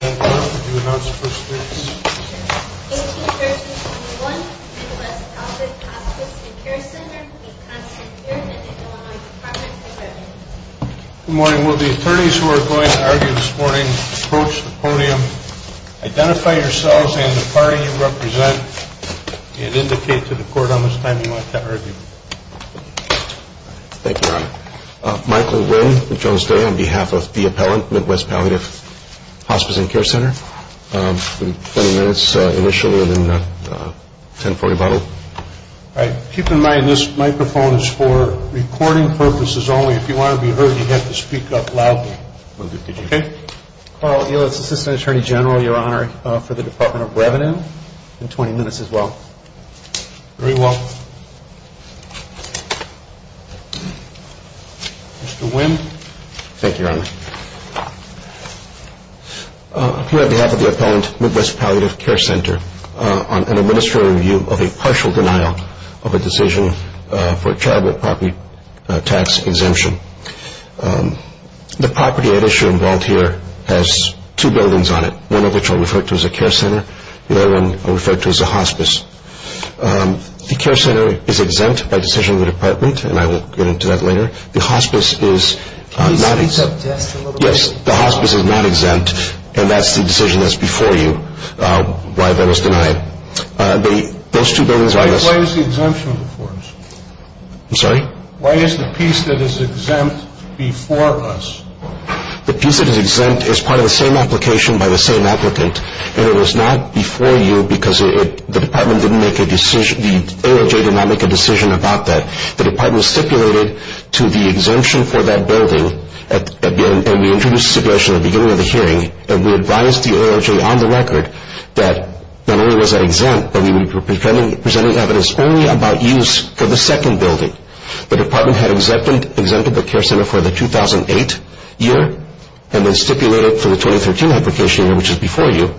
Good morning. Will the attorneys who are going to argue this morning approach the podium. Identify yourselves and the party you represent and indicate to the court how much time you want to argue. Thank you, Your Honor. Michael Winn, Jones Day on behalf of the appellant, Midwest Palliative Hospice and Care Center. 20 minutes initially and then 10 for rebuttal. Keep in mind this microphone is for recording purposes only. If you want to be heard you have to speak up loudly. Carl Elitz, Assistant Attorney General, Your Honor for the Department of Revenue. 20 minutes as well. Very well. Mr. Winn. Thank you, Your Honor. I'm here on behalf of the appellant, Midwest Palliative Care Center on an administrative review of a partial denial of a decision for a charitable property tax exemption. The property at issue involved here has two buildings on it, one of which I'll refer to as a care center, the other one I'll refer to as a hospice. The care center is exempt by decision of the department and I will get into that later. Can you speak up just a little bit? Yes, the hospice is not exempt and that's the decision that's before you why that was denied. Why is the exemption before us? I'm sorry? Why is the piece that is exempt before us? The piece that is exempt is part of the same application by the same applicant and it was not before you because the department didn't make a decision, the ALJ did not make a decision about that. The department stipulated to the exemption for that building and we introduced the suggestion at the beginning of the hearing and we advised the ALJ on the record that not only was that exempt but we were presenting evidence only about use for the second building. The department had exempted the care center for the 2008 year and then stipulated for the 2013 application, which is before you,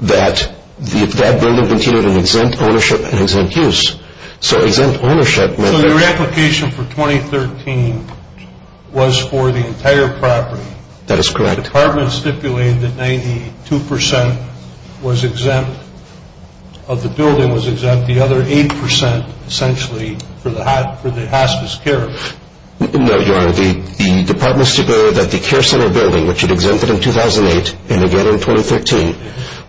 that that building continued in exempt ownership and exempt use. So exempt ownership meant... So the reapplication for 2013 was for the entire property. That is correct. The department stipulated that 92% of the building was exempt, the other 8% essentially for the hospice care. No, Your Honor. The department stipulated that the care center building, which it exempted in 2008 and again in 2013,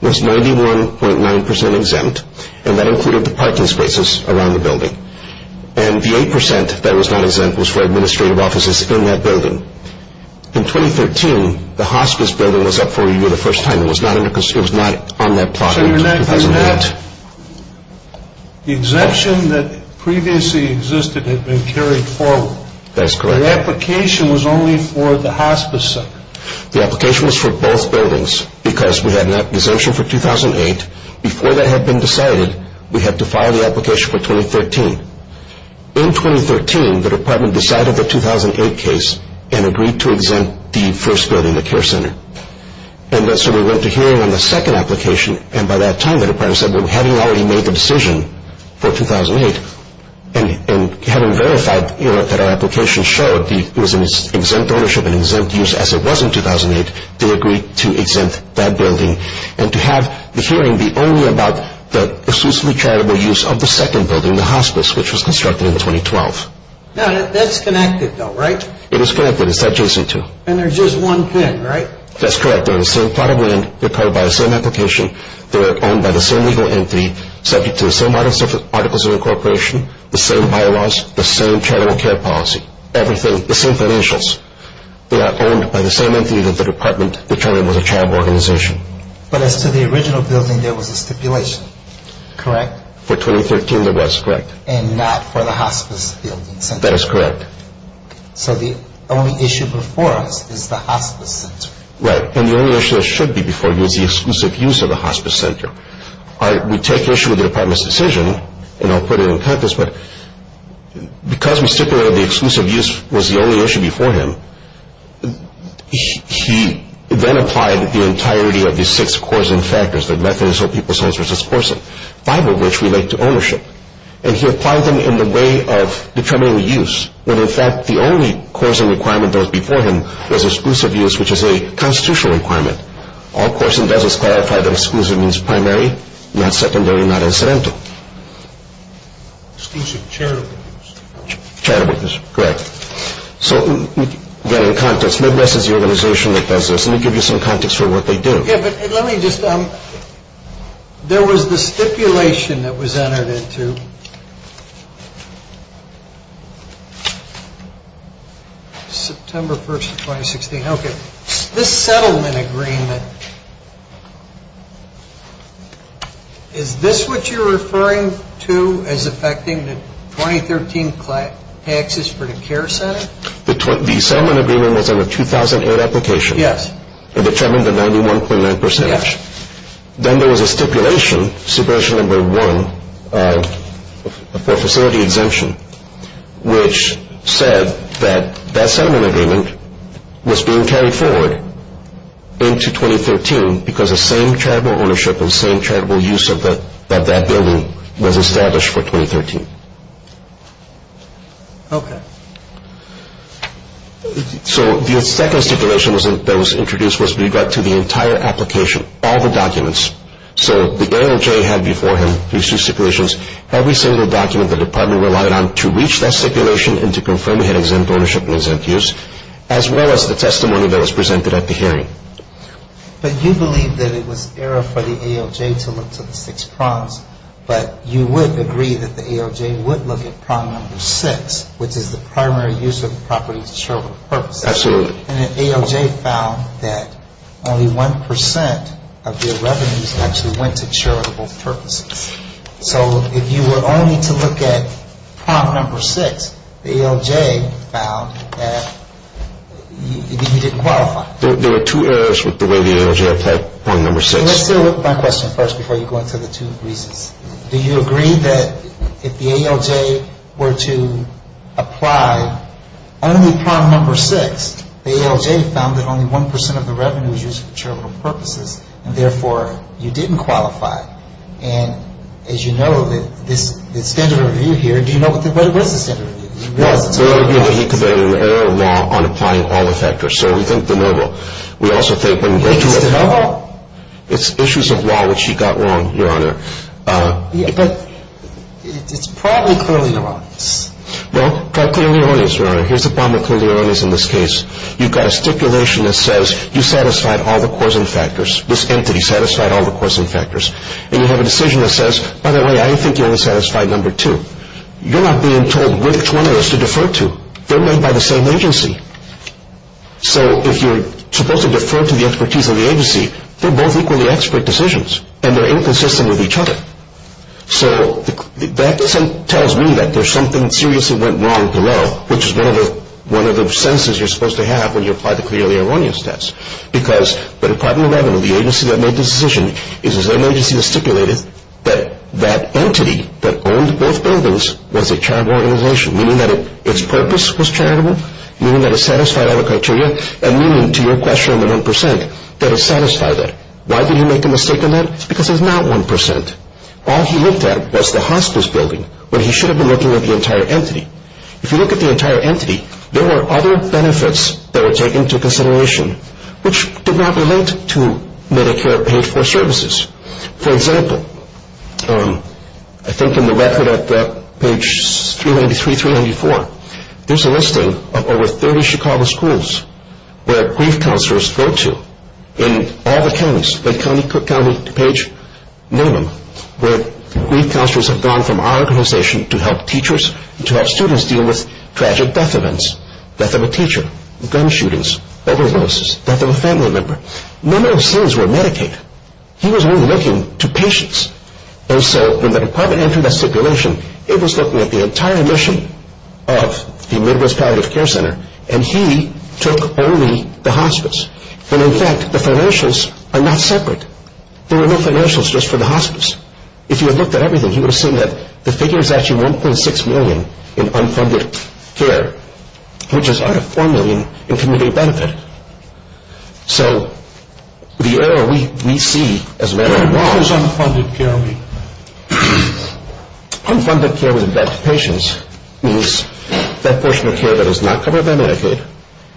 was 91.9% exempt and that included the parking spaces around the building. And the 8% that was not exempt was for administrative offices in that building. In 2013, the hospice building was up for review the first time. It was not on that plot in 2008. The exemption that previously existed had been carried forward. That is correct. The application was only for the hospice center. The application was for both buildings because we had an exemption for 2008. Before that had been decided, we had to file the application for 2013. In 2013, the department decided the 2008 case and agreed to exempt the first building, the care center. And so we went to hearing on the second application. And by that time, the department said, well, having already made the decision for 2008 and having verified that our application showed it was in its exempt ownership and exempt use as it was in 2008, they agreed to exempt that building and to have the hearing be only about the exclusively charitable use of the second building, the hospice, which was constructed in 2012. Now, that's connected, though, right? It is connected. It's adjacent to. And they're just one thing, right? That's correct. They're the same plot of land. They're covered by the same application. They were owned by the same legal entity subject to the same articles of incorporation, the same bylaws, the same charitable care policy, everything, the same financials. They are owned by the same entity that the department determined was a charitable organization. But as to the original building, there was a stipulation, correct? For 2013, there was, correct. And not for the hospice building center. That is correct. Okay. So the only issue before us is the hospice center. Right. And the only issue that should be before you is the exclusive use of the hospice center. We take issue with the department's decision, and I'll put it on campus, but because we stipulated the exclusive use was the only issue before him, he then applied the entirety of the six causing factors, the methods of people's homes versus courting, five of which relate to ownership. And he applied them in the way of determining the use, when in fact the only causing requirement that was before him was exclusive use, which is a constitutional requirement. All Corson does is clarify that exclusive means primary, not secondary, not incidental. Exclusive charitable use. Charitable use, correct. So again, in context, Midwest is the organization that does this. Let me give you some context for what they do. Okay, but let me just, there was the stipulation that was entered into September 1st of 2016. Okay. This settlement agreement, is this what you're referring to as affecting the 2013 taxes for the care center? The settlement agreement was on a 2008 application. Yes. It determined the 91.9 percent. Yes. Then there was a stipulation, stipulation number one, for facility exemption, which said that that settlement agreement was being carried forward into 2013 because the same charitable ownership and same charitable use of that building was established for 2013. Okay. So the second stipulation that was introduced was we got to the entire application, all the documents. So the ALJ had before him, these two stipulations, every single document the department relied on to reach that stipulation and to confirm he had exempt ownership and exempt use, as well as the testimony that was presented at the hearing. But you believe that it was error for the ALJ to look to the six prompts, but you would agree that the ALJ would look at prompt number six, which is the primary use of the property for charitable purposes. Absolutely. And the ALJ found that only one percent of their revenues actually went to charitable purposes. So if you were only to look at prompt number six, the ALJ found that you didn't qualify. There were two errors with the way the ALJ applied prompt number six. So let's deal with my question first before you go into the two reasons. Do you agree that if the ALJ were to apply only prompt number six, the ALJ found that only one percent of the revenue was used for charitable purposes and, therefore, you didn't qualify? And as you know, the standard review here, do you know what it was, the standard review? It was the standard review that he conveyed in the error law on applying all the factors. So we think de novo. We also think when we go to de novo, it's issues of law which he got wrong, Your Honor. But it's probably clearly erroneous. Well, try clearly erroneous, Your Honor. Here's a problem with clearly erroneous in this case. You've got a stipulation that says you satisfied all the causing factors. This entity satisfied all the causing factors. And you have a decision that says, by the way, I think you only satisfied number two. You're not being told which one it is to defer to. They're made by the same agency. So if you're supposed to defer to the expertise of the agency, they're both equally expert decisions, and they're inconsistent with each other. So that tells me that there's something seriously went wrong below, which is one of the senses you're supposed to have when you apply the clearly erroneous test. Because the Department of Revenue, the agency that made the decision, is an agency that stipulated that that entity that owned both buildings was a charitable organization, meaning that its purpose was charitable, meaning that it satisfied all the criteria, and meaning, to your question on the 1%, that it satisfied that. Why did he make a mistake on that? It's because it's not 1%. All he looked at was the hospice building when he should have been looking at the entire entity. If you look at the entire entity, there were other benefits that were taken into consideration, which did not relate to Medicare paid for services. For example, I think in the record at page 393, 394, there's a listing of over 30 Chicago schools where grief counselors go to in all the counties. Lake County, Cook County, Page, name them, where grief counselors have gone from our organization to help teachers, to help students deal with tragic death events, death of a teacher, gun shootings, overdoses, death of a family member. None of those things were Medicaid. He was only looking to patients. And so when the department entered that stipulation, it was looking at the entire mission of the Midwest Palliative Care Center, and he took only the hospice. And in fact, the financials are not separate. There were no financials just for the hospice. If he had looked at everything, he would have seen that the figure is actually 1.6 million in unfunded care, which is out of 4 million in community benefit. So the error we see as a matter of law... What is unfunded care? Unfunded care with patients means that portion of care that is not covered by Medicaid.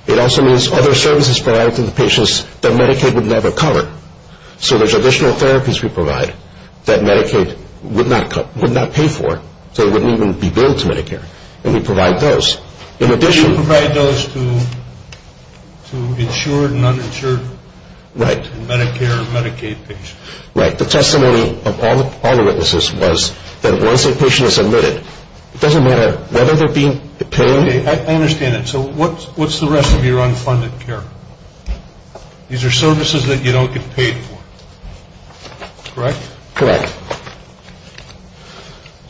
It also means other services provided to the patients that Medicaid would never cover. So there's additional therapies we provide that Medicaid would not pay for, so it wouldn't even be billed to Medicare, and we provide those. You provide those to insured and uninsured Medicare and Medicaid patients. Right. The testimony of all the witnesses was that once a patient is admitted, it doesn't matter whether they're being paid. I understand that. So what's the rest of your unfunded care? These are services that you don't get paid for, correct? Correct.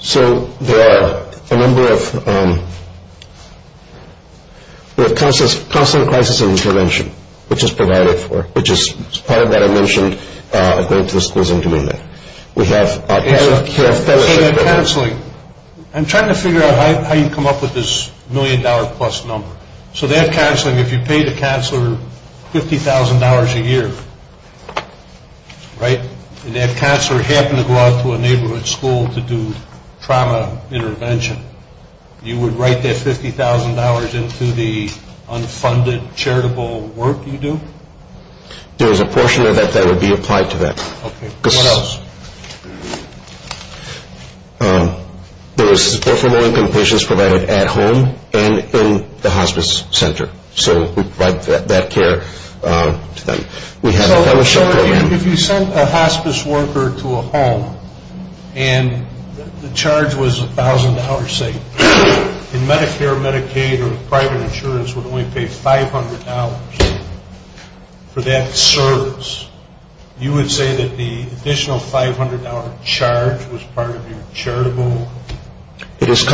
So there are a number of... We have counseling, crisis, and intervention, which is provided for, which is part of that I mentioned going to the schools and community. We have... Counseling. I'm trying to figure out how you come up with this million-dollar-plus number. So they have counseling. If you pay the counselor $50,000 a year, right, and that counselor happened to go out to a neighborhood school to do trauma intervention, you would write that $50,000 into the unfunded charitable work you do? There is a portion of that that would be applied to that. Okay. What else? There is support for low-income patients provided at home and in the hospice center, so we provide that care to them. So if you sent a hospice worker to a home and the charge was $1,000, say, and Medicare, Medicaid, or private insurance would only pay $500 for that service, you would say that the additional $500 charge was part of your charitable work? It is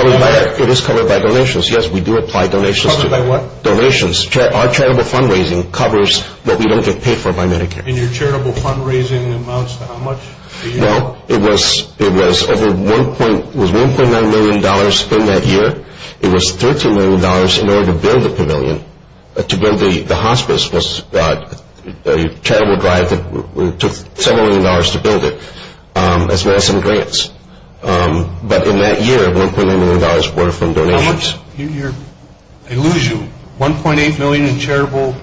covered by donations, yes. We do apply donations. Covered by what? Donations. Our charitable fundraising covers what we don't get paid for by Medicare. And your charitable fundraising amounts to how much? Well, it was over $1.9 million in that year. It was $13 million in order to build the pavilion, to build the hospice. It was a charitable drive that took $7 million to build it, as well as some grants. But in that year, $1.9 million were from donations. I lose you. $1.8 million in charitable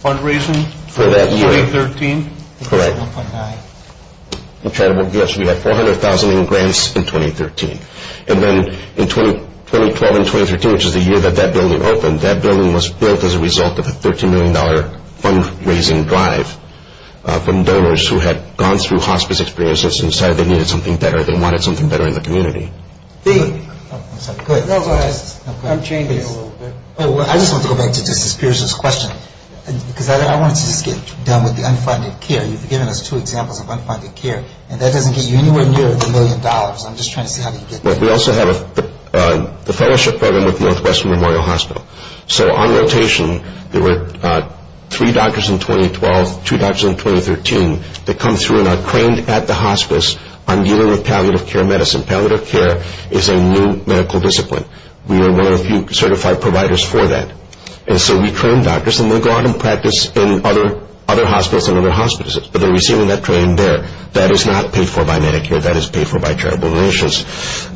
fundraising for 2013? Correct. We had 400,000 in grants in 2013. And then in 2012 and 2013, which is the year that that building opened, that building was built as a result of a $13 million fundraising drive from donors who had gone through hospice experiences and decided they needed something better, they wanted something better in the community. I'm sorry. Go ahead. No, go ahead. I'm changing it a little bit. I just want to go back to just as Piers was questioning, because I wanted to just get done with the unfunded care. You've given us two examples of unfunded care, and that doesn't get you anywhere near the million dollars. I'm just trying to see how you get there. We also have the fellowship program with Northwestern Memorial Hospital. So on rotation, there were three doctors in 2012, two doctors in 2013, that come through and are trained at the hospice on dealing with palliative care medicine. Palliative care is a new medical discipline. We are one of the certified providers for that. And so we train doctors, and they go out and practice in other hospitals and other hospices. But they're receiving that training there. That is not paid for by Medicare. That is paid for by charitable donations.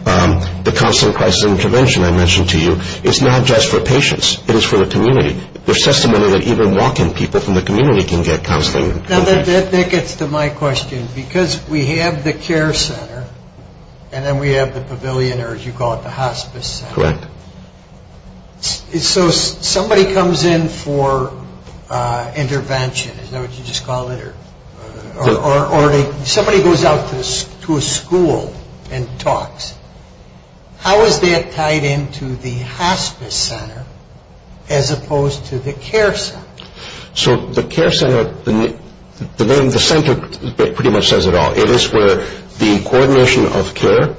The counseling crisis intervention I mentioned to you is not just for patients. It is for the community. There's testimony that even walking people from the community can get counseling. That gets to my question. Because we have the care center, and then we have the pavilion, or as you call it, the hospice center. Correct. So somebody comes in for intervention. Is that what you just call it? Somebody goes out to a school and talks. How is that tied into the hospice center as opposed to the care center? So the care center, the name of the center pretty much says it all. It is where the coordination of care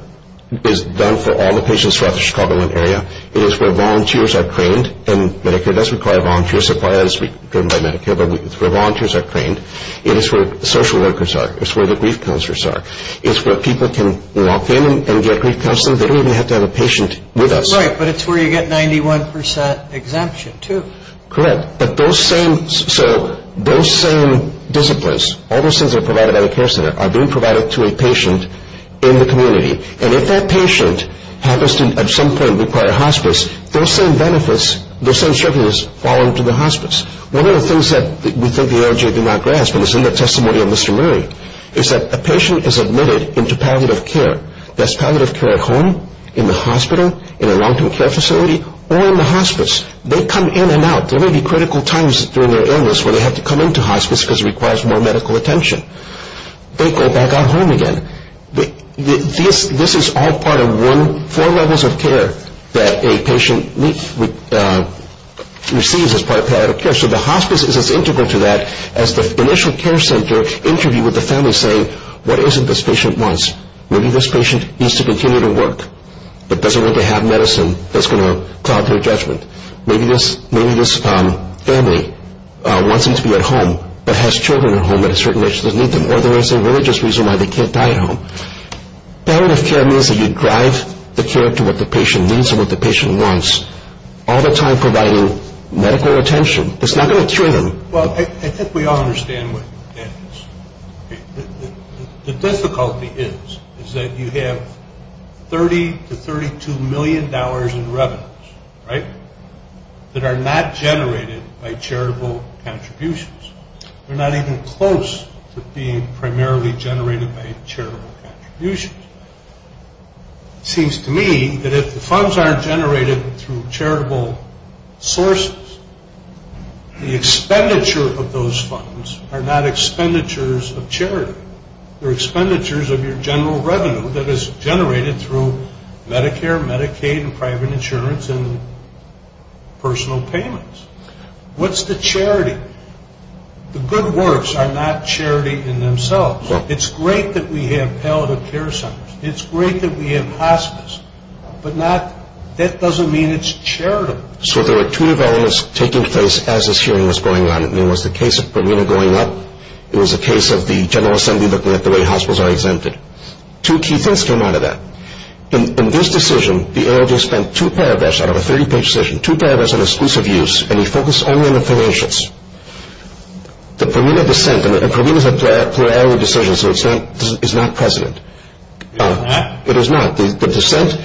is done for all the patients throughout the Chicagoland area. It is where volunteers are trained. And Medicare does require volunteer support, as we do by Medicare. But it's where volunteers are trained. It is where social workers are. It's where the grief counselors are. It's where people can walk in and get grief counseling. They don't even have to have a patient with us. Right, but it's where you get 91 percent exemption too. Correct. But those same disciplines, all those things that are provided by the care center, are being provided to a patient in the community. And if that patient happens to at some point require hospice, those same benefits, those same services fall into the hospice. One of the things that we think the LHA did not grasp, and it's in the testimony of Mr. Murray, is that a patient is admitted into palliative care. That's palliative care at home, in the hospital, in a long-term care facility, or in the hospice. They come in and out. There may be critical times during their illness where they have to come into hospice because it requires more medical attention. They go back out home again. This is all part of four levels of care that a patient receives as part of palliative care. So the hospice is as integral to that as the initial care center interview with the family saying, what is it this patient wants? Maybe this patient needs to continue to work, but doesn't want to have medicine that's going to cloud their judgment. Maybe this family wants them to be at home, but has children at home at a certain age that need them, or there is a religious reason why they can't die at home. Palliative care means that you drive the care to what the patient needs and what the patient wants, all the time providing medical attention. It's not going to cure them. Well, I think we all understand what that is. The difficulty is that you have 30 to $32 million in revenues, right, that are not generated by charitable contributions. They're not even close to being primarily generated by charitable contributions. It seems to me that if the funds aren't generated through charitable sources, the expenditure of those funds are not expenditures of charity. They're expenditures of your general revenue that is generated through Medicare, Medicaid, and private insurance and personal payments. What's the charity? The good works are not charity in themselves. It's great that we have palliative care centers. It's great that we have hospice, but that doesn't mean it's charitable. So there were two developments taking place as this hearing was going on. It was the case of Parmena going up. It was a case of the General Assembly looking at the way hospitals are exempted. Two key things came out of that. In this decision, the ALJ spent two paragraphs out of a 30-page decision, two paragraphs on exclusive use, and he focused only on the financials. The Parmena dissent, and Parmena is a plurality decision, so it's not president. It is not. The dissent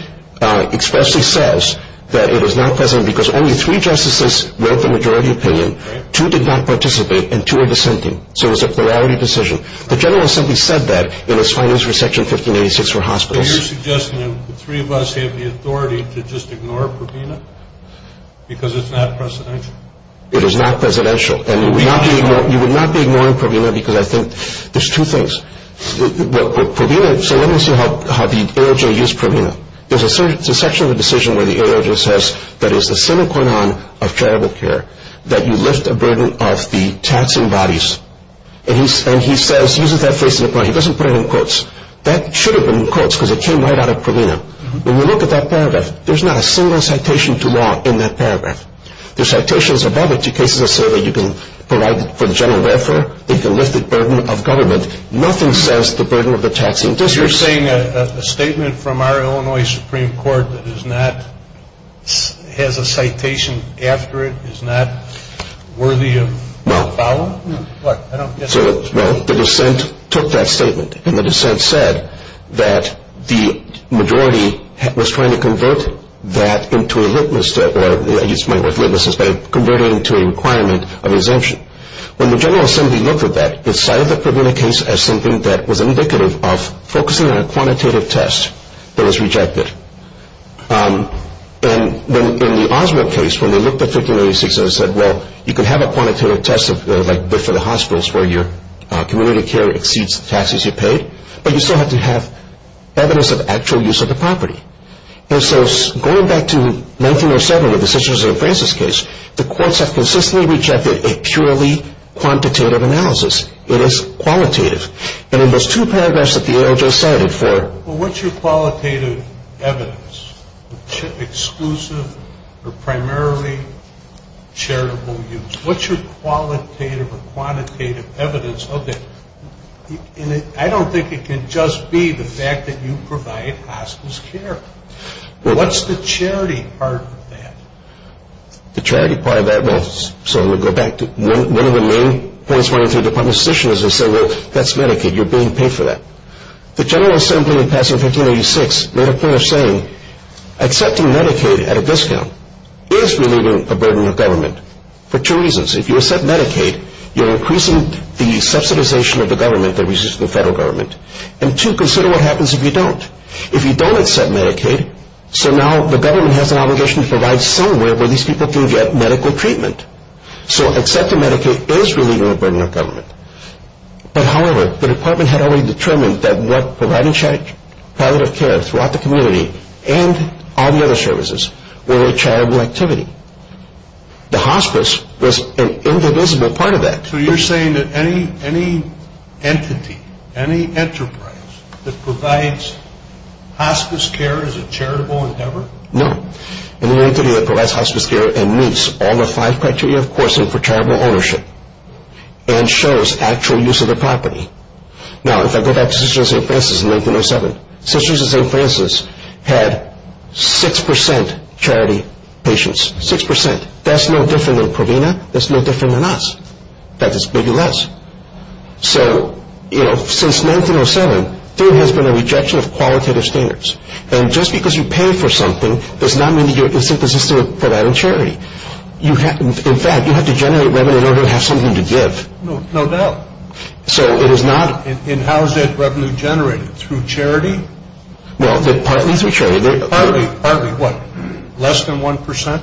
expressly says that it is not president because only three justices read the majority opinion, two did not participate, and two are dissenting. So it's a plurality decision. The General Assembly said that in its findings for Section 1586 for hospitals. Are you suggesting that the three of us have the authority to just ignore Parmena because it's not presidential? It is not presidential. And you would not be ignoring Parmena because I think there's two things. Parmena, so let me show you how the ALJ used Parmena. There's a section of the decision where the ALJ says that it is the sine qua non of charitable care that you lift the burden of the taxing bodies, and he says, he uses that phrase, he doesn't put it in quotes. That should have been in quotes because it came right out of Parmena. When you look at that paragraph, there's not a single citation to law in that paragraph. There's citations above it to cases that say that you can provide for the general welfare, they can lift the burden of government. Nothing says the burden of the taxing districts. You're saying that a statement from our Illinois Supreme Court that is not, has a citation after it, is not worthy of follow-up? No. The dissent took that statement, and the dissent said that the majority was trying to convert that into a litmus test, converting it into a requirement of exemption. When the General Assembly looked at that, it cited the Parmena case as something that was indicative of focusing on a quantitative test that was rejected. And in the Oswald case, when they looked at 1586, they said, well, you can have a quantitative test, like for the hospitals where your community care exceeds the taxes you paid, but you still have to have evidence of actual use of the property. And so going back to 1907 with the Sisters of St. Francis case, the courts have consistently rejected a purely quantitative analysis. It is qualitative. And in those two paragraphs that the A.L. just cited for... Well, what's your qualitative evidence? Exclusive or primarily charitable use. What's your qualitative or quantitative evidence of it? I don't think it can just be the fact that you provide hospitals care. What's the charity part of that? The charity part of that, well, so we'll go back to one of the main points running through the Department of Justice is they say, well, that's Medicaid. You're being paid for that. The General Assembly, in passing 1586, made a point of saying, accepting Medicaid at a discount is relieving a burden on government for two reasons. If you accept Medicaid, you're increasing the subsidization of the government that reaches the federal government. And two, consider what happens if you don't. If you don't accept Medicaid, so now the government has an obligation to provide somewhere where these people can get medical treatment. So accepting Medicaid is relieving a burden on government. But, however, the department had already determined that what provided palliative care throughout the community and all the other services were charitable activity. The hospice was an indivisible part of that. So you're saying that any entity, any enterprise that provides hospice care is a charitable endeavor? No. Any entity that provides hospice care meets all the five criteria, of course, and for charitable ownership and shows actual use of the property. Now, if I go back to Sisters of St. Francis in 1907, Sisters of St. Francis had 6% charity patients. Six percent. That's no different than Provena. That's no different than us. That is maybe less. So, you know, since 1907, there has been a rejection of qualitative standards. And just because you pay for something, does not mean that you're inconsistent for that in charity. In fact, you have to generate revenue in order to have something to give. No doubt. And how is that revenue generated? Through charity? Well, partly through charity. Partly. Partly what? Less than 1%?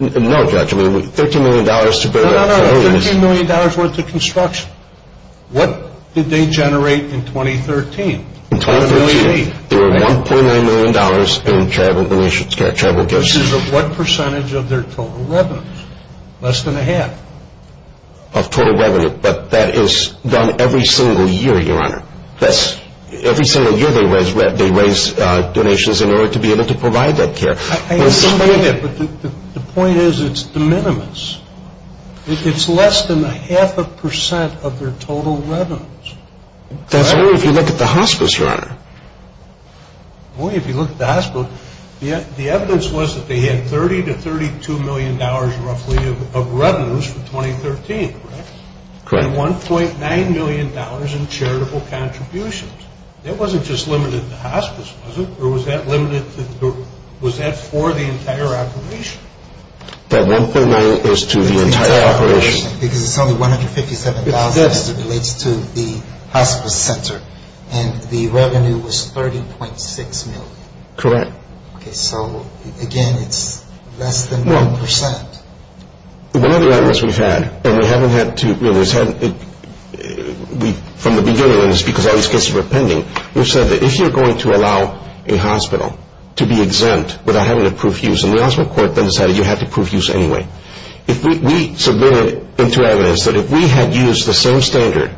No, Judge. I mean, $13 million to build a home is. No, no, no. $13 million went to construction. What did they generate in 2013? In 2013, there were $1.9 million in charitable gifts. Which is of what percentage of their total revenue? Less than a half. Of total revenue. But that is done every single year, Your Honor. Every single year, they raise donations in order to be able to provide that care. I understand that, but the point is it's de minimis. It's less than a half a percent of their total revenues. That's only if you look at the hospice, Your Honor. Only if you look at the hospice. The evidence was that they had $30 to $32 million, roughly, of revenues for 2013, correct? Correct. And $1.9 million in charitable contributions. That wasn't just limited to hospice, was it? Or was that for the entire operation? That $1.9 is to the entire operation. Because it's only $157,000 as it relates to the hospice center. And the revenue was $13.6 million. Correct. Okay. So, again, it's less than 1%. Well, one of the arguments we've had, and we haven't had to, you know, we've said from the beginning, and it's because all these cases were pending, we've said that if you're going to allow a hospital to be exempt without having to prove use, and the hospital court then decided you have to prove use anyway. If we submitted into evidence that if we had used the same standard,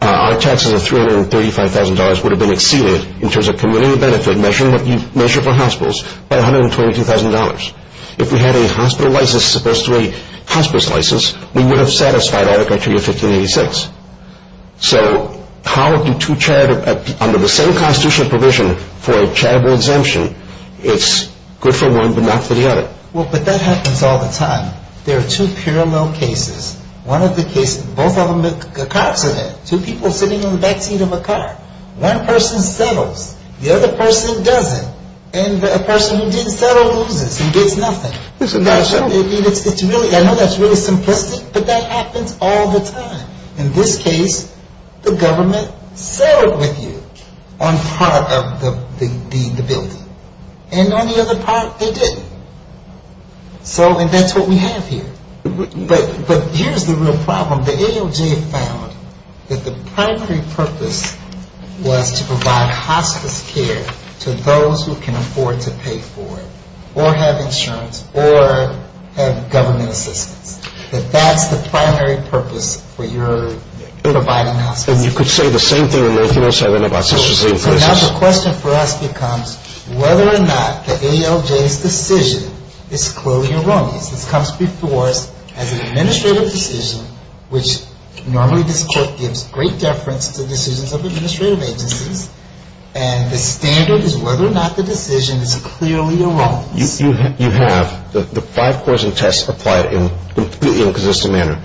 our taxes of $335,000 would have been exceeded in terms of community benefit measured by hospitals by $122,000. If we had a hospital license as opposed to a hospice license, we would have satisfied all the criteria of 1586. So how do two charities, under the same constitutional provision, for a charitable exemption, it's good for one but not for the other? Well, but that happens all the time. There are two parallel cases. One of the cases, both of them a car accident. Two people sitting in the back seat of a car. One person settles. The other person doesn't. And the person who didn't settle loses. He gets nothing. It's a nutshell. It's really, I know that's really simplistic, but that happens all the time. In this case, the government settled with you on part of the building. And on the other part, they didn't. So, and that's what we have here. But here's the real problem. The ALJ found that the primary purpose was to provide hospice care to those who can afford to pay for it or have insurance or have government assistance. That that's the primary purpose for your providing hospice care. And you could say the same thing in North Carolina about such a thing. So now the question for us becomes whether or not the ALJ's decision is clearly wrong. This comes before us as an administrative decision, which normally this court gives great deference to decisions of administrative agencies. And the standard is whether or not the decision is clearly wrong. You have the five course and test applied in a completely inconsistent manner.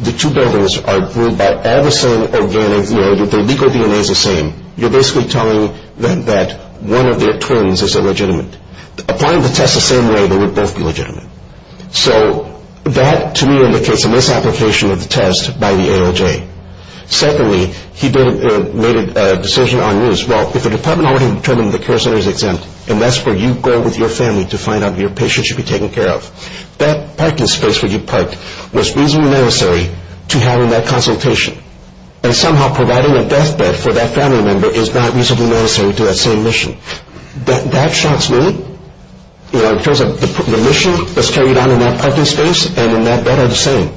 The two buildings are ruled by all the same organic, you know, the legal DNA is the same. You're basically telling them that one of their twins is illegitimate. Applying the test the same way, they would both be legitimate. So that, to me, indicates a misapplication of the test by the ALJ. Secondly, he made a decision on news. Well, if the department already determined the care center is exempt and that's where you go with your family to find out if your patient should be taken care of, that parking space where you parked was reasonably necessary to having that consultation. And somehow providing a deathbed for that family member is not reasonably necessary to that same mission. That shocks me in terms of the mission that's carried out in that parking space and in that bed are the same.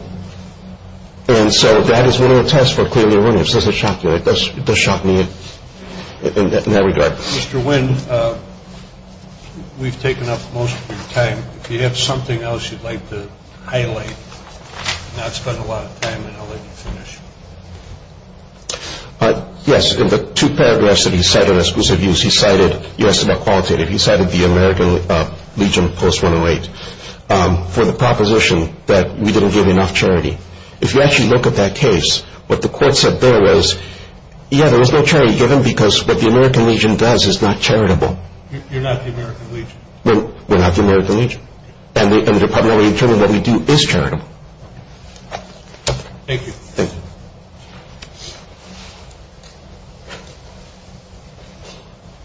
And so that is one of the tests for clearly wrong. It does shock me in that regard. Mr. Wynn, we've taken up most of your time. If you have something else you'd like to highlight, not spend a lot of time, then I'll let you finish. Yes. In the two paragraphs that he cited as exclusive use, he cited, you asked about qualitative, he cited the American Legion Post-108 for the proposition that we didn't give enough charity. If you actually look at that case, what the court said there was, yeah, there was no charity given because what the American Legion does is not charitable. You're not the American Legion. We're not the American Legion. And the department already determined what we do is charitable. Thank you. Thank you.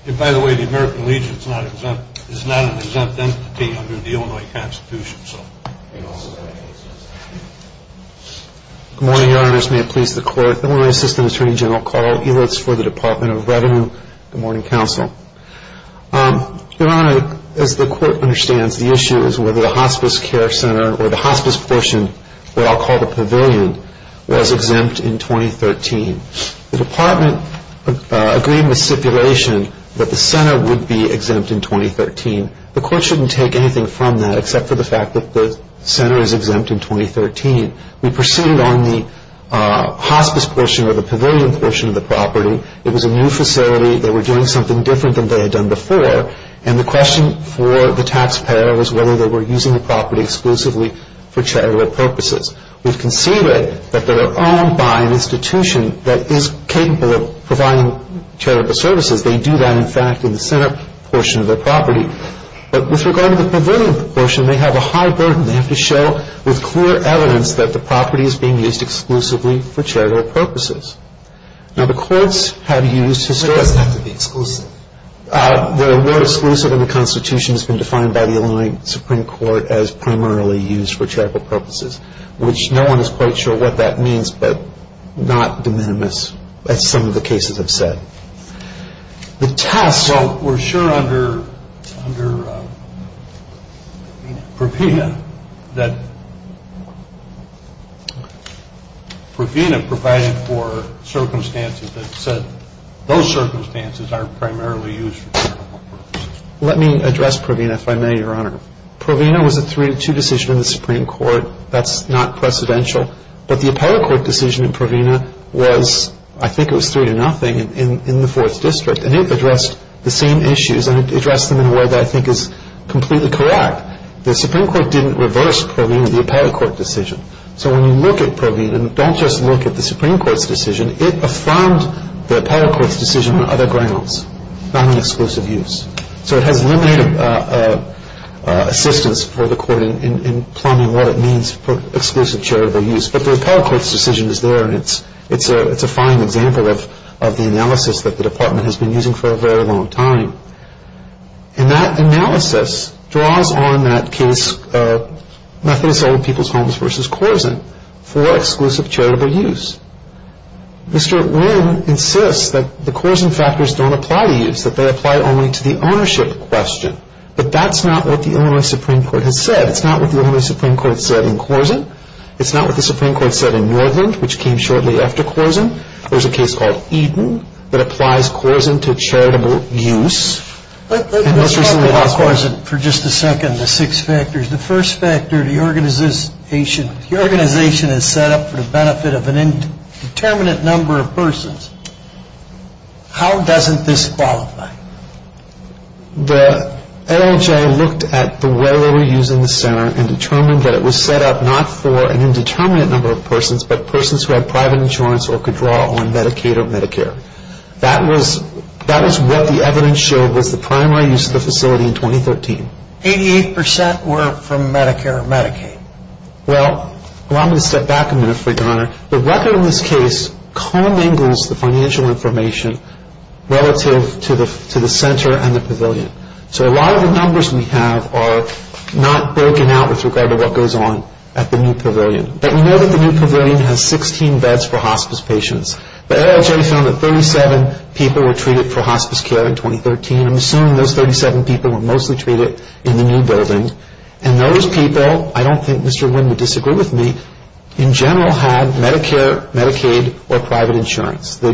And by the way, the American Legion is not an exempt entity under the Illinois Constitution. Good morning, Your Honors. May it please the Court. Illinois Assistant Attorney General Carl Elitz for the Department of Revenue. Good morning, Counsel. Your Honor, as the Court understands, the issue is whether the hospice care center or the hospice portion, what I'll call the pavilion, was exempt in 2013. The department agreed with stipulation that the center would be exempt in 2013. The Court shouldn't take anything from that except for the fact that the center is exempt in 2013. We proceeded on the hospice portion or the pavilion portion of the property. It was a new facility. They were doing something different than they had done before. And the question for the taxpayer was whether they were using the property exclusively for charitable purposes. We've conceded that they're owned by an institution that is capable of providing charitable services. They do that, in fact, in the center portion of their property. But with regard to the pavilion portion, they have a high burden. They have to show with clear evidence that the property is being used exclusively for charitable purposes. Now, the courts have used historic... It doesn't have to be exclusive. The word exclusive in the Constitution has been defined by the Illinois Supreme Court as primarily used for charitable purposes, which no one is quite sure what that means, but not de minimis, as some of the cases have said. The test... Provena provided for circumstances that said those circumstances are primarily used for charitable purposes. Let me address Provena, if I may, Your Honor. Provena was a 3-2 decision in the Supreme Court. That's not precedential. But the appellate court decision in Provena was, I think it was 3-0 in the 4th District, and it addressed the same issues, and it addressed them in a way that I think is completely correct. The Supreme Court didn't reverse Provena, the appellate court decision. So when you look at Provena, and don't just look at the Supreme Court's decision, it affirmed the appellate court's decision on other grounds, not on exclusive use. So it has limited assistance for the court in plumbing what it means for exclusive charitable use. But the appellate court's decision is there, and it's a fine example of the analysis that the Department has been using for a very long time. And that analysis draws on that case Methodist Old People's Homes v. Corzine for exclusive charitable use. Mr. Wynn insists that the Corzine factors don't apply to use, that they apply only to the ownership question. But that's not what the Illinois Supreme Court has said. It's not what the Illinois Supreme Court said in Corzine. It's not what the Supreme Court said in Northland, which came shortly after Corzine. There's a case called Eaton that applies Corzine to charitable use. Let's talk about Corzine for just a second, the six factors. The first factor, the organization is set up for the benefit of an indeterminate number of persons. How doesn't this qualify? The NLJ looked at the way they were using the center and determined that it was set up not for an indeterminate number of persons, but persons who had private insurance or could draw on Medicaid or Medicare. That is what the evidence showed was the primary use of the facility in 2013. Eighty-eight percent were from Medicare or Medicaid. Well, allow me to step back a minute for your honor. The record in this case commingles the financial information relative to the center and the pavilion. So a lot of the numbers we have are not broken out with regard to what goes on at the new pavilion. But we know that the new pavilion has 16 beds for hospice patients. The NLJ found that 37 people were treated for hospice care in 2013. I'm assuming those 37 people were mostly treated in the new building. And those people, I don't think Mr. Wynn would disagree with me, in general had Medicare, Medicaid, or private insurance. The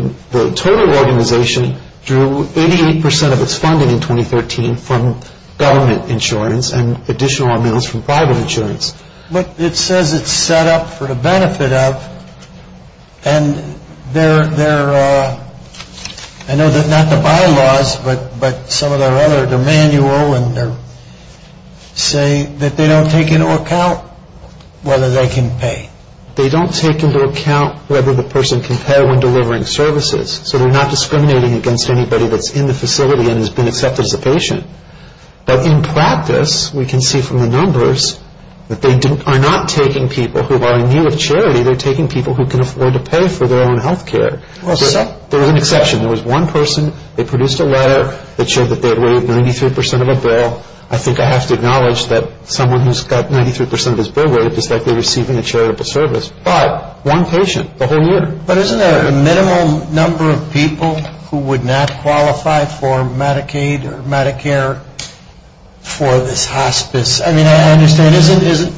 total organization drew 88 percent of its funding in 2013 from government insurance and additional amounts from private insurance. But it says it's set up for the benefit of, and I know that not the bylaws, but some of the other, the manual, say that they don't take into account whether they can pay. They don't take into account whether the person can pay when delivering services. So they're not discriminating against anybody that's in the facility and has been accepted as a patient. But in practice, we can see from the numbers that they are not taking people who are in need of charity. They're taking people who can afford to pay for their own health care. There was an exception. There was one person, they produced a letter that showed that they had waived 93 percent of a bill. I think I have to acknowledge that someone who's got 93 percent of his bill waived is likely receiving a charitable service. But one patient the whole year. But isn't there a minimal number of people who would not qualify for Medicaid or Medicare for this hospice? I mean, I understand,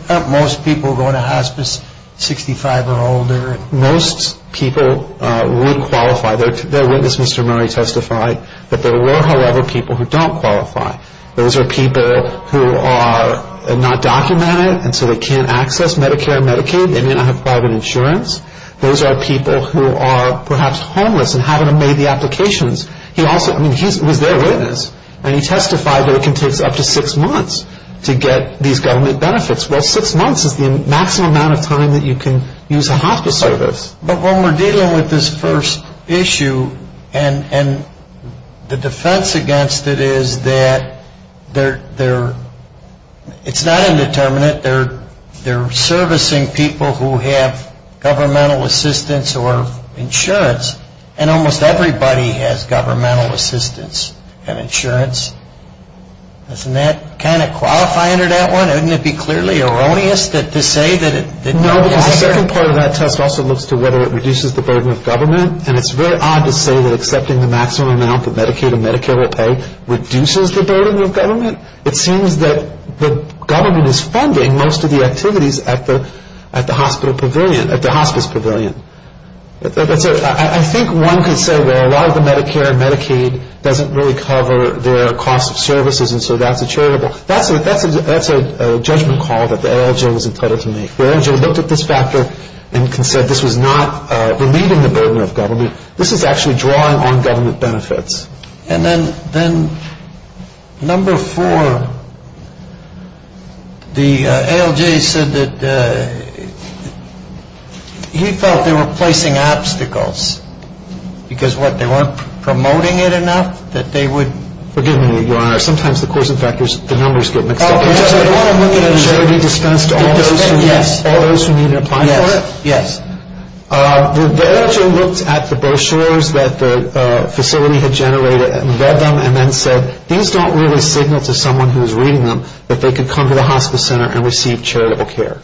aren't most people going to hospice 65 or older? Most people would qualify. Their witness, Mr. Murray, testified that there were, however, people who don't qualify. Those are people who are not documented, and so they can't access Medicare and Medicaid. They may not have private insurance. Those are people who are perhaps homeless and haven't made the applications. He also, I mean, he was their witness. And he testified that it can take up to six months to get these government benefits. Well, six months is the maximum amount of time that you can use a hospice service. But when we're dealing with this first issue, and the defense against it is that it's not indeterminate. They're servicing people who have governmental assistance or insurance. And almost everybody has governmental assistance and insurance. Doesn't that kind of qualify under that one? Wouldn't it be clearly erroneous to say that it doesn't? No, because the second part of that test also looks to whether it reduces the burden of government. And it's very odd to say that accepting the maximum amount that Medicaid and Medicare will pay reduces the burden of government. It seems that the government is funding most of the activities at the hospital pavilion, at the hospice pavilion. I think one could say, well, a lot of the Medicare and Medicaid doesn't really cover their cost of services, and so that's a charitable. That's a judgment call that the ALJ was entitled to make. The ALJ looked at this factor and said this was not relieving the burden of government. This is actually drawing on government benefits. And then number four, the ALJ said that he felt they were placing obstacles. Because what, they weren't promoting it enough that they would? Forgive me, Your Honor. Sometimes the course of factors, the numbers get mixed up. Charity dispensed to all those who needed to apply for it? Yes. The ALJ looked at the brochures that the facility had generated and read them and then said, these don't really signal to someone who is reading them that they could come to the hospice center and receive charitable care.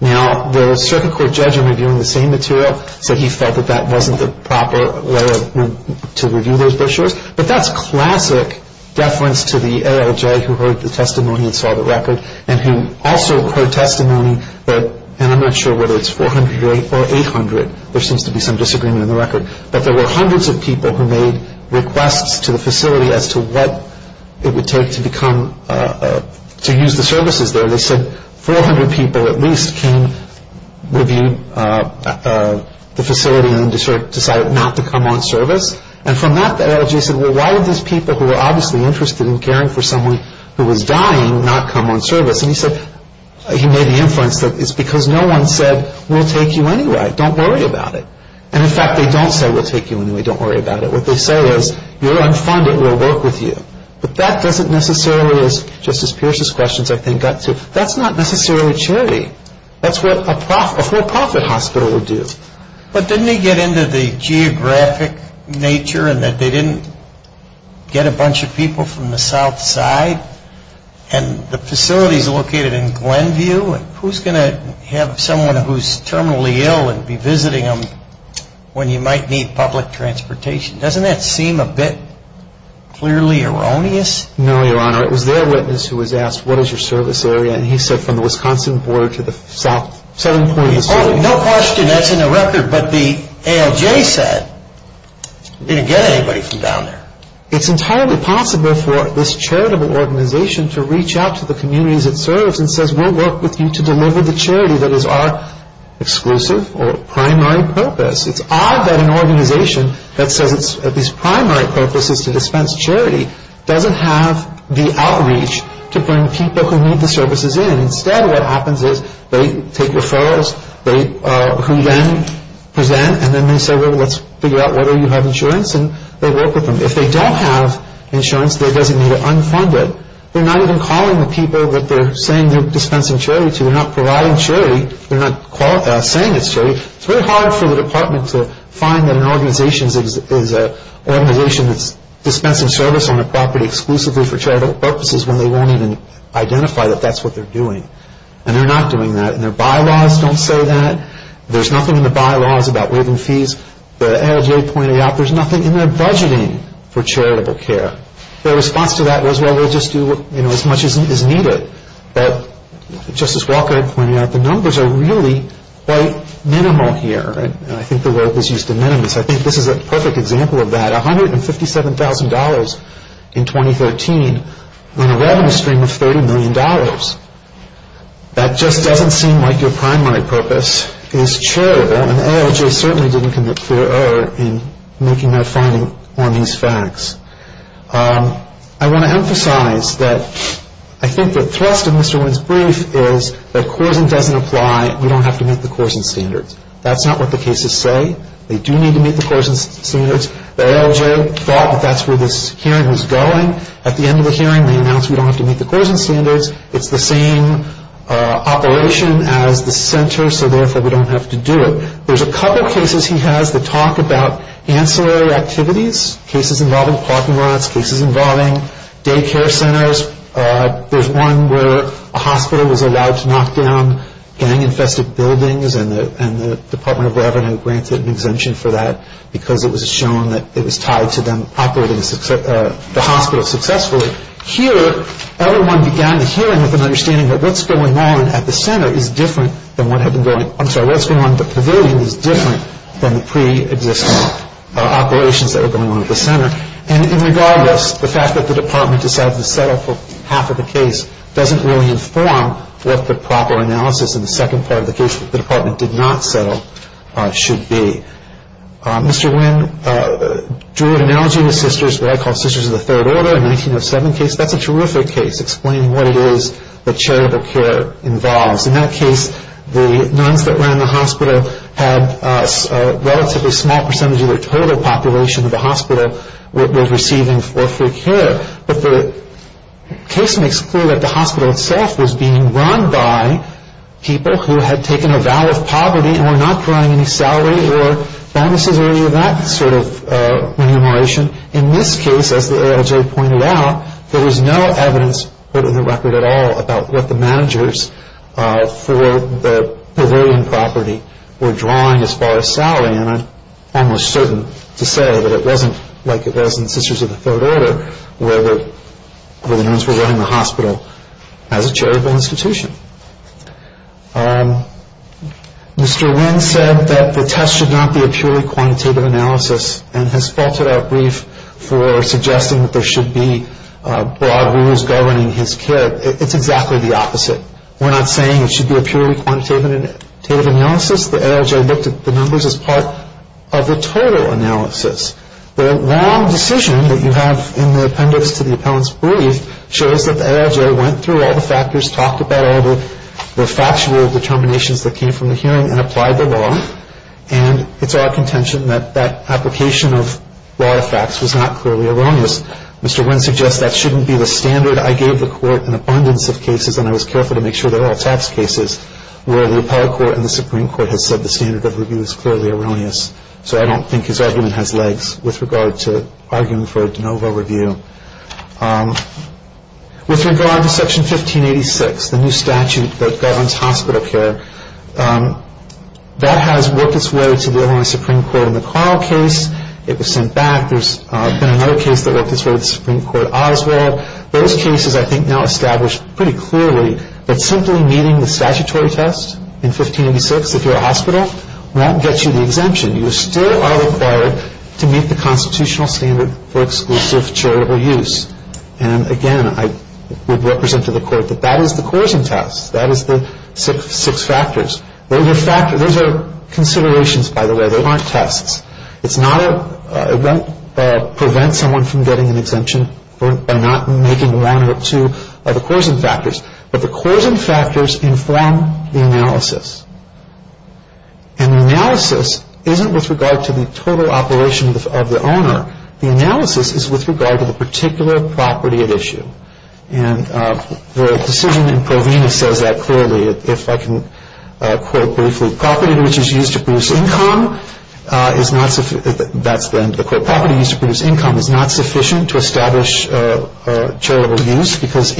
Now, the circuit court judge, in reviewing the same material, said he felt that that wasn't the proper way to review those brochures. But that's classic deference to the ALJ who heard the testimony and saw the record and who also heard testimony that, and I'm not sure whether it's 400 or 800, there seems to be some disagreement in the record, but there were hundreds of people who made requests to the facility as to what it would take to use the services there. They said 400 people at least came, reviewed the facility, and then decided not to come on service. And from that, the ALJ said, well, why would these people, who were obviously interested in caring for someone who was dying, not come on service? And he said, he made the inference that it's because no one said, we'll take you anyway. Don't worry about it. And, in fact, they don't say, we'll take you anyway. Don't worry about it. What they say is, you're unfunded. We'll work with you. But that doesn't necessarily, as Justice Pierce's questions I think got to, that's not necessarily charity. That's what a for-profit hospital would do. But didn't they get into the geographic nature in that they didn't get a bunch of people from the south side? And the facility's located in Glenview. Who's going to have someone who's terminally ill and be visiting them when you might need public transportation? Doesn't that seem a bit clearly erroneous? No, Your Honor. It was their witness who was asked, what is your service area? And he said, from the Wisconsin border to the south. Oh, no question that's in the record. But the ALJ said, didn't get anybody from down there. It's entirely possible for this charitable organization to reach out to the communities it serves and says, we'll work with you to deliver the charity that is our exclusive or primary purpose. It's odd that an organization that says its primary purpose is to dispense charity doesn't have the outreach to bring people who need the services in. Instead, what happens is they take referrals who then present, and then they say, well, let's figure out whether you have insurance, and they work with them. If they don't have insurance, they're designated unfunded. They're not even calling the people that they're saying they're dispensing charity to. They're not providing charity. They're not saying it's charity. It's very hard for the department to find that an organization that's dispensing service on a property exclusively for charitable purposes when they won't even identify that that's what they're doing. And they're not doing that. And their bylaws don't say that. There's nothing in the bylaws about waiving fees. The ALJ pointed out there's nothing in their budgeting for charitable care. Their response to that was, well, we'll just do as much as needed. But, just as Walker had pointed out, the numbers are really quite minimal here. And I think the word was used in minimus. I think this is a perfect example of that. $157,000 in 2013 in a revenue stream of $30 million. That just doesn't seem like your primary purpose is charitable, and the ALJ certainly didn't commit clear error in making that finding on these facts. I want to emphasize that I think the thrust of Mr. Wynn's brief is that CORSEN doesn't apply. We don't have to meet the CORSEN standards. That's not what the cases say. They do need to meet the CORSEN standards. The ALJ thought that that's where this hearing was going. At the end of the hearing, they announced we don't have to meet the CORSEN standards. It's the same operation as the center, so therefore we don't have to do it. There's a couple cases he has that talk about ancillary activities, cases involving parking lots, cases involving daycare centers. There's one where a hospital was allowed to knock down gang-infested buildings, and the Department of Revenue granted an exemption for that because it was shown that it was tied to them operating the hospital successfully. Here, everyone began the hearing with an understanding that what's going on at the center is different than what had been going on. I'm sorry, what's going on at the pavilion is different than the pre-existing operations that were going on at the center. And regardless, the fact that the department decided to settle for half of the case doesn't really inform what the proper analysis in the second part of the case that the department did not settle should be. Mr. Wynn drew an analogy with what I call Sisters of the Third Order, a 1907 case. That's a terrific case explaining what it is that charitable care involves. In that case, the nuns that were in the hospital had a relatively small percentage of the total population of the hospital was receiving for free care. But the case makes clear that the hospital itself was being run by people who had taken a vow of poverty and were not drawing any salary or bonuses or any of that sort of remuneration. In this case, as the ALJ pointed out, there was no evidence put in the record at all about what the managers for the pavilion property were drawing as far as salary. And I'm almost certain to say that it wasn't like it was in Sisters of the Third Order where the nuns were running the hospital as a charitable institution. Mr. Wynn said that the test should not be a purely quantitative analysis and has spelt it out brief for suggesting that there should be broad rules governing his care. It's exactly the opposite. We're not saying it should be a purely quantitative analysis. The ALJ looked at the numbers as part of the total analysis. The long decision that you have in the appendix to the appellant's brief shows that the ALJ went through all the factors, talked about all the factual determinations that came from the hearing, and applied the law. And it's our contention that that application of law effects was not clearly erroneous. Mr. Wynn suggests that shouldn't be the standard. I gave the court an abundance of cases, and I was careful to make sure they were all tax cases, where the appellate court and the Supreme Court had said the standard of review is clearly erroneous. So I don't think his argument has legs with regard to arguing for a de novo review. With regard to Section 1586, the new statute that governs hospital care, that has worked its way to the Illinois Supreme Court in the Carl case. It was sent back. There's been another case that worked its way to the Supreme Court, Oswald. Those cases, I think, now establish pretty clearly that simply meeting the statutory test in 1586, if you're a hospital, won't get you the exemption. You still are required to meet the constitutional standard for exclusive charitable use. And, again, I would represent to the court that that is the coercion test. That is the six factors. Those are considerations, by the way. They aren't tests. It won't prevent someone from getting an exemption by not making one or two of the coercion factors. But the coercion factors inform the analysis. And the analysis isn't with regard to the total operation of the owner. The analysis is with regard to the particular property at issue. And the decision in Provena says that clearly. If I can quote briefly, property which is used to produce income is not sufficient to establish charitable use because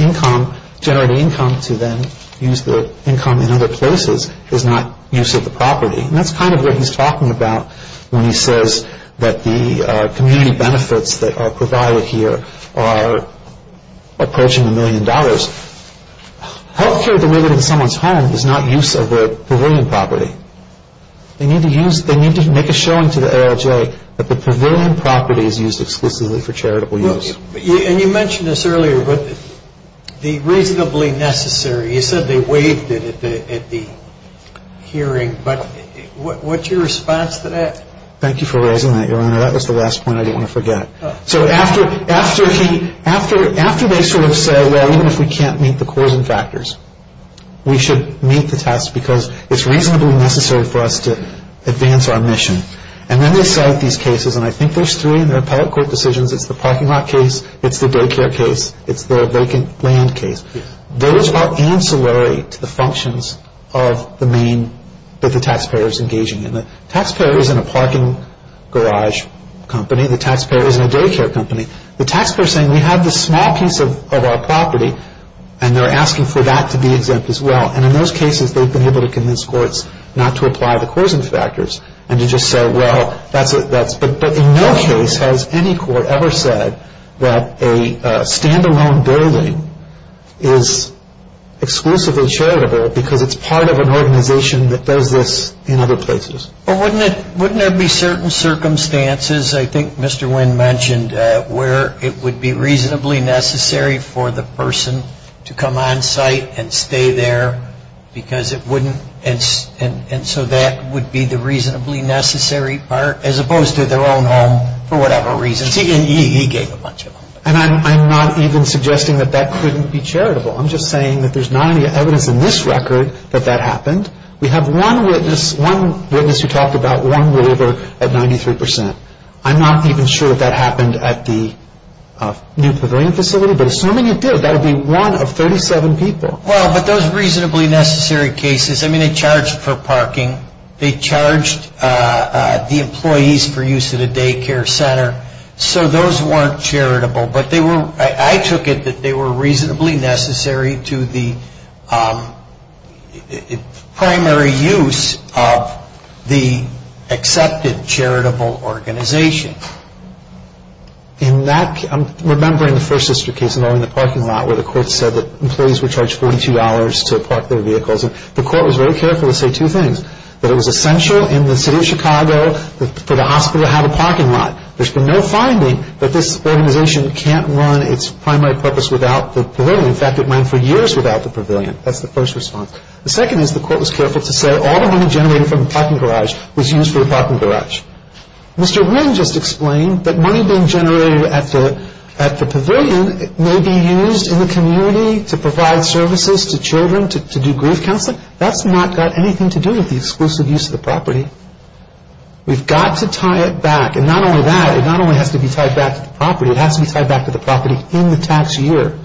generating income to then use the income in other places is not use of the property. And that's kind of what he's talking about when he says that the community benefits that are provided here are approaching a million dollars. Healthcare delivered in someone's home is not use of the pavilion property. They need to make a showing to the ALJ that the pavilion property is used exclusively for charitable use. And you mentioned this earlier, but the reasonably necessary, you said they waived it at the hearing. But what's your response to that? Thank you for raising that, Your Honor. That was the last point I didn't want to forget. So after they sort of say, well, even if we can't meet the cause and factors, we should meet the test because it's reasonably necessary for us to advance our mission. And then they cite these cases, and I think there's three in their appellate court decisions. It's the parking lot case. It's the daycare case. It's their vacant land case. Those are ancillary to the functions of the main that the taxpayer is engaging in. The taxpayer isn't a parking garage company. The taxpayer isn't a daycare company. The taxpayer is saying we have this small piece of our property, and they're asking for that to be exempt as well. And in those cases, they've been able to convince courts not to apply the cause and factors and to just say, well, that's it. But in no case has any court ever said that a stand-alone building is exclusively charitable because it's part of an organization that does this in other places. But wouldn't there be certain circumstances, I think Mr. Wynn mentioned, where it would be reasonably necessary for the person to come on site and stay there because it wouldn't and so that would be the reasonably necessary part as opposed to their own home for whatever reasons. He gave a bunch of them. And I'm not even suggesting that that couldn't be charitable. I'm just saying that there's not any evidence in this record that that happened. We have one witness who talked about one waiver at 93%. I'm not even sure if that happened at the New Pavilion facility. But assuming it did, that would be one of 37 people. Well, but those reasonably necessary cases, I mean, they charged for parking. They charged the employees for use of the daycare center. So those weren't charitable. I took it that they were reasonably necessary to the primary use of the accepted charitable organization. In that, I'm remembering the First Sister case involving the parking lot where the court said that employees were charged $42 to park their vehicles. The court was very careful to say two things, that it was essential in the city of Chicago for the hospital to have a parking lot. There's been no finding that this organization can't run its primary purpose without the pavilion. In fact, it went for years without the pavilion. That's the first response. The second is the court was careful to say all the money generated from the parking garage was used for the parking garage. Mr. Wynn just explained that money being generated at the pavilion may be used in the community to provide services to children, to do grief counseling. That's not got anything to do with the exclusive use of the property. We've got to tie it back. And not only that, it not only has to be tied back to the property, it has to be tied back to the property in the tax year.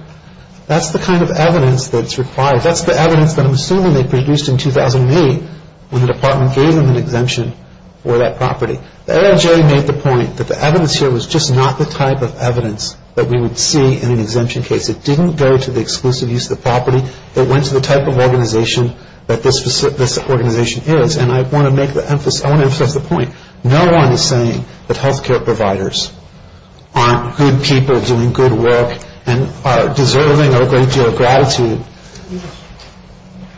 That's the kind of evidence that's required. That's the evidence that I'm assuming they produced in 2008 when the department gave them an exemption for that property. The LHA made the point that the evidence here was just not the type of evidence that we would see in an exemption case. It didn't go to the exclusive use of the property. It went to the type of organization that this organization is. And I want to emphasize the point. No one is saying that health care providers aren't good people doing good work and are deserving a great deal of gratitude.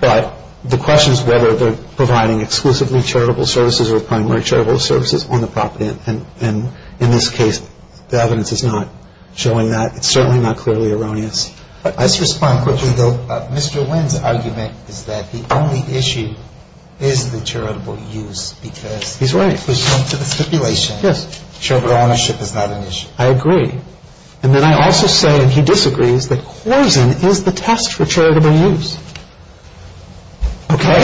But the question is whether they're providing exclusively charitable services or primary charitable services on the property. And in this case, the evidence is not showing that. It's certainly not clearly erroneous. Let's respond quickly, though. Mr. Nguyen's argument is that the only issue is the charitable use. He's right. Because if we jump to the stipulation, charitable ownership is not an issue. I agree. And then I also say, and he disagrees, that Korsen is the test for charitable use. Okay?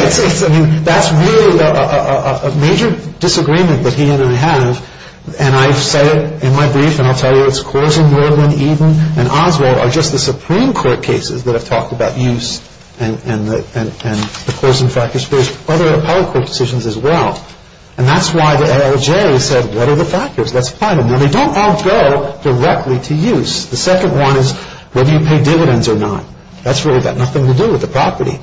That's really a major disagreement that he and I have. And I say it in my brief, and I'll tell you it's Korsen, Nordman, Eden, and Oswald are just the Supreme Court cases that have talked about use and the Korsen factors. There's other appellate court decisions as well. And that's why the ALJ said, what are the factors? Let's find them. Now, they don't all go directly to use. The second one is whether you pay dividends or not. That's really got nothing to do with the property.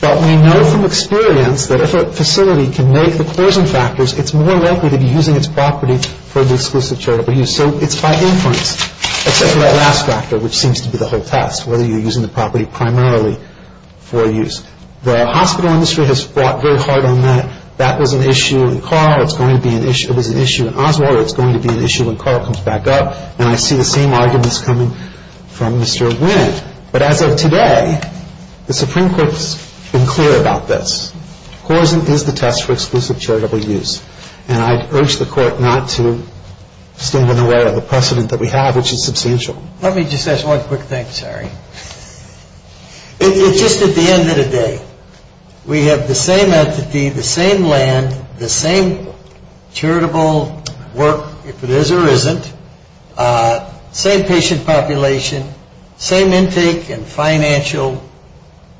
But we know from experience that if a facility can make the Korsen factors, it's more likely to be using its property for the exclusive charitable use. So it's by inference, except for that last factor, which seems to be the whole test, whether you're using the property primarily for use. The hospital industry has fought very hard on that. That was an issue in Carl. It was an issue in Oswald. It's going to be an issue when Carl comes back up. And I see the same arguments coming from Mr. Nguyen. But as of today, the Supreme Court has been clear about this. Korsen is the test for exclusive charitable use. And I urge the Court not to stand unaware of the precedent that we have, which is substantial. Let me just ask one quick thing, sorry. Just at the end of the day, we have the same entity, the same land, the same charitable work, if it is or isn't, same patient population, same intake and financial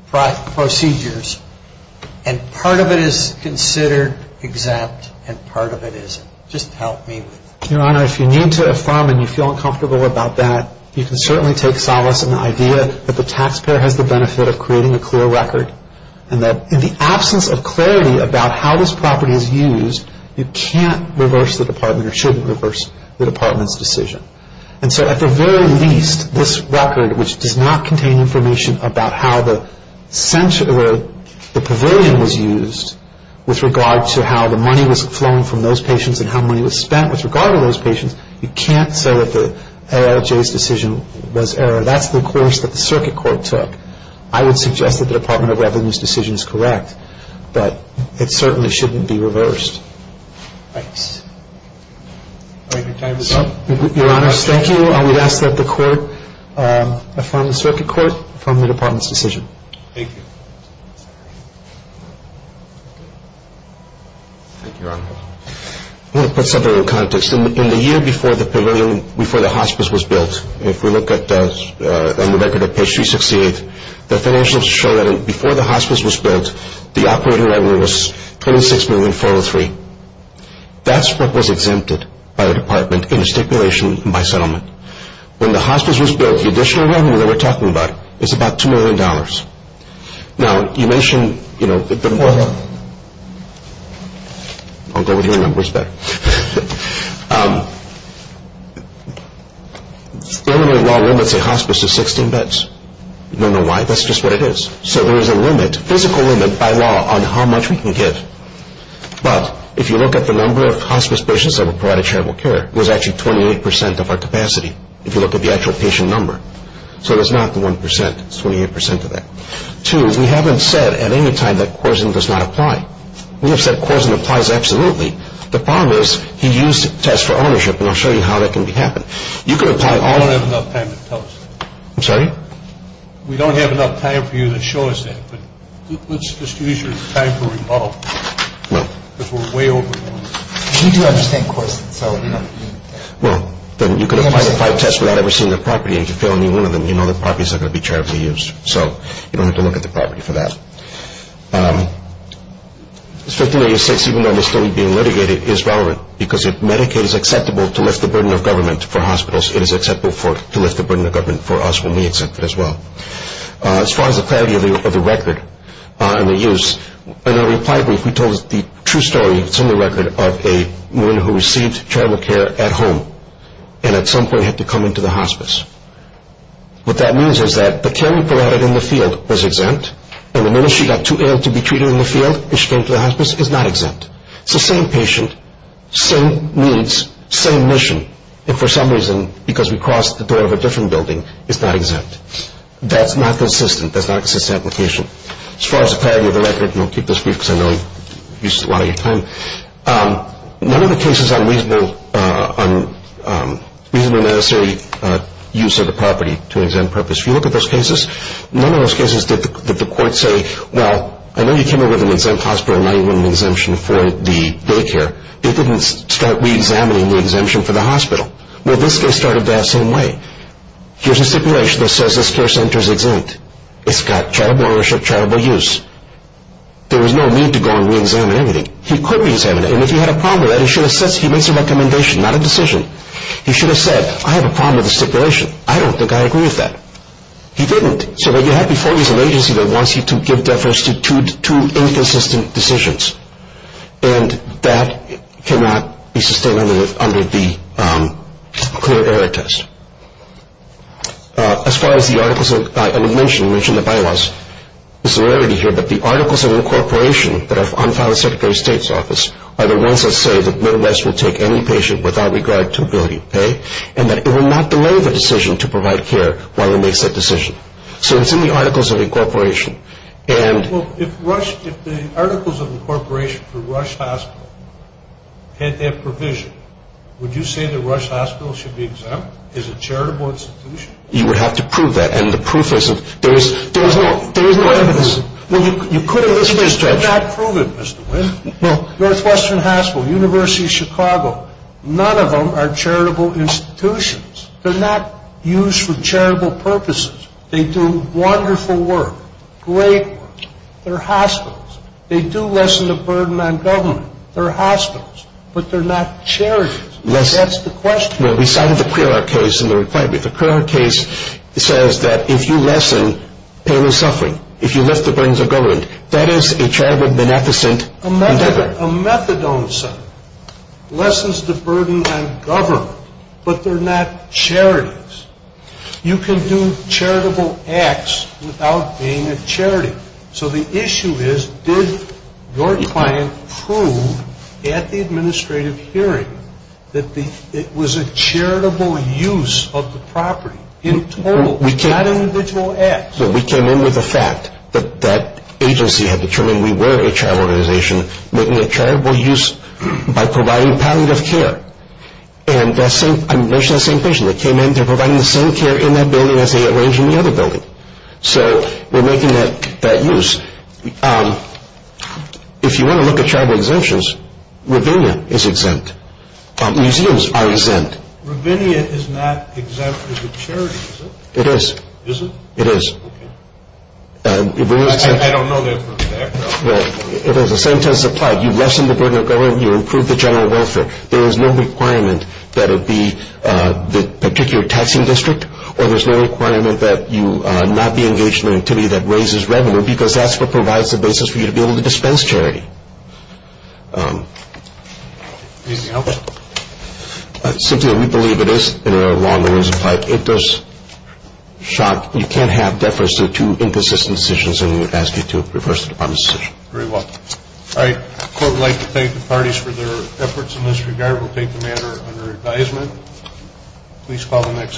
procedures. And part of it is considered exempt and part of it isn't. Just help me with that. Your Honor, if you need to affirm and you feel uncomfortable about that, you can certainly take solace in the idea that the taxpayer has the benefit of creating a clear record and that in the absence of clarity about how this property is used, you can't reverse the Department or shouldn't reverse the Department's decision. And so at the very least, this record, which does not contain information about how the pavilion was used with regard to how the money was flown from those patients and how money was spent with regard to those patients, you can't say that the ALJ's decision was error. That's the course that the Circuit Court took. I would suggest that the Department of Revenue's decision is correct. But it certainly shouldn't be reversed. Thanks. I think your time is up. Your Honor, thank you. I would ask that the Court affirm the Circuit Court, affirm the Department's decision. Thank you. Thank you, Your Honor. I want to put something in context. In the year before the pavilion, before the hospice was built, if we look on the record at page 368, the financials show that before the hospice was built, the operating revenue was $26,403,000. That's what was exempted by the Department in a stipulation by settlement. When the hospice was built, the additional revenue that we're talking about is about $2 million. Now, you mentioned, you know, the more... I'll go with your numbers back. Illinois law limits a hospice to 16 beds. You don't know why. That's just what it is. So there is a limit, physical limit by law, on how much we can give. But if you look at the number of hospice patients that were provided charitable care, it was actually 28 percent of our capacity, if you look at the actual patient number. So it was not the 1 percent. It was 28 percent of that. Two, we haven't said at any time that coarsen does not apply. We have said coarsen applies absolutely. The problem is he used tests for ownership, and I'll show you how that can happen. You can apply all... We don't have enough time to tell us that. I'm sorry? We don't have enough time for you to show us that. But let's just use your time to revolve. No. Because we're way over time. We do understand coarsen, so... Well, then you can apply the five tests without ever seeing the property, and if you fail any one of them, you know the property is not going to be charitably used. So you don't have to look at the property for that. Strictly, even though it's still being litigated, it is relevant because if Medicaid is acceptable to lift the burden of government for hospitals, it is acceptable to lift the burden of government for us when we accept it as well. As far as the clarity of the record and the use, in our reply brief we told the true story, similar record, of a woman who received child care at home and at some point had to come into the hospice. What that means is that the care provided in the field was exempt, and the minute she got too ill to be treated in the field and she came to the hospice, it's not exempt. It's the same patient, same needs, same mission, and for some reason, because we crossed the door of a different building, it's not exempt. That's not consistent. That's not consistent application. As far as the clarity of the record, and I'll keep this brief because I know I used a lot of your time, none of the cases on reasonably necessary use of the property to an exempt purpose, if you look at those cases, none of those cases did the court say, well, I know you came in with an exempt hospital and now you want an exemption for the daycare. It didn't start reexamining the exemption for the hospital. Well, this case started that same way. Here's a stipulation that says this care center's exempt. It's got charitable ownership, charitable use. There was no need to go and reexamine everything. He could reexamine it, and if he had a problem with that, he should have said so. He makes a recommendation, not a decision. He should have said, I have a problem with the stipulation. I don't think I agree with that. He didn't. So what you have before you is an agency that wants you to give deference to two inconsistent decisions, and that cannot be sustained under the clear error test. As far as the articles of incorporation, you mentioned the bylaws. There's a rarity here, but the articles of incorporation that are on the Secretary of State's office are the ones that say that Midwest will take any patient without regard to ability to pay and that it will not delay the decision to provide care while he makes that decision. So it's in the articles of incorporation. Well, if the articles of incorporation for Rush Hospital had that provision, would you say that Rush Hospital should be exempt as a charitable institution? You would have to prove that, and the proof isn't. There is no evidence. Well, you could have listed it. You could not prove it, Mr. Wynn. Well, Northwestern Hospital, University of Chicago, none of them are charitable institutions. They're not used for charitable purposes. They do wonderful work, great work. They're hospitals. They do lessen the burden on government. They're hospitals, but they're not charities. That's the question. Well, we cited the clear error case in the requirement. The clear error case says that if you lessen pain or suffering, if you lift the burdens of government, that is a charitable beneficent endeavor. A methadone center lessens the burden on government, but they're not charities. You can do charitable acts without being a charity. So the issue is did your client prove at the administrative hearing that it was a charitable use of the property in total, not individual acts? So we came in with the fact that that agency had determined we were a charitable organization, making a charitable use by providing palliative care. And I mentioned the same patient that came in. They're providing the same care in that building as they arrange in the other building. So we're making that use. If you want to look at charitable exemptions, Ravinia is exempt. Museums are exempt. Ravinia is not exempt as a charity, is it? It is. Is it? It is. Okay. I don't know their background. Well, the same test is applied. You lessen the burden of government, you improve the general welfare. There is no requirement that it be the particular taxing district, or there's no requirement that you not be engaged in an activity that raises revenue because that's what provides the basis for you to be able to dispense charity. Is it helpful? Simply, we believe it is. It does shock. You can't have deference to two inconsistent decisions, and we would ask you to reverse the department's decision. Very well. All right. The court would like to thank the parties for their efforts in this regard. We'll take the matter under advisement. Please call the next.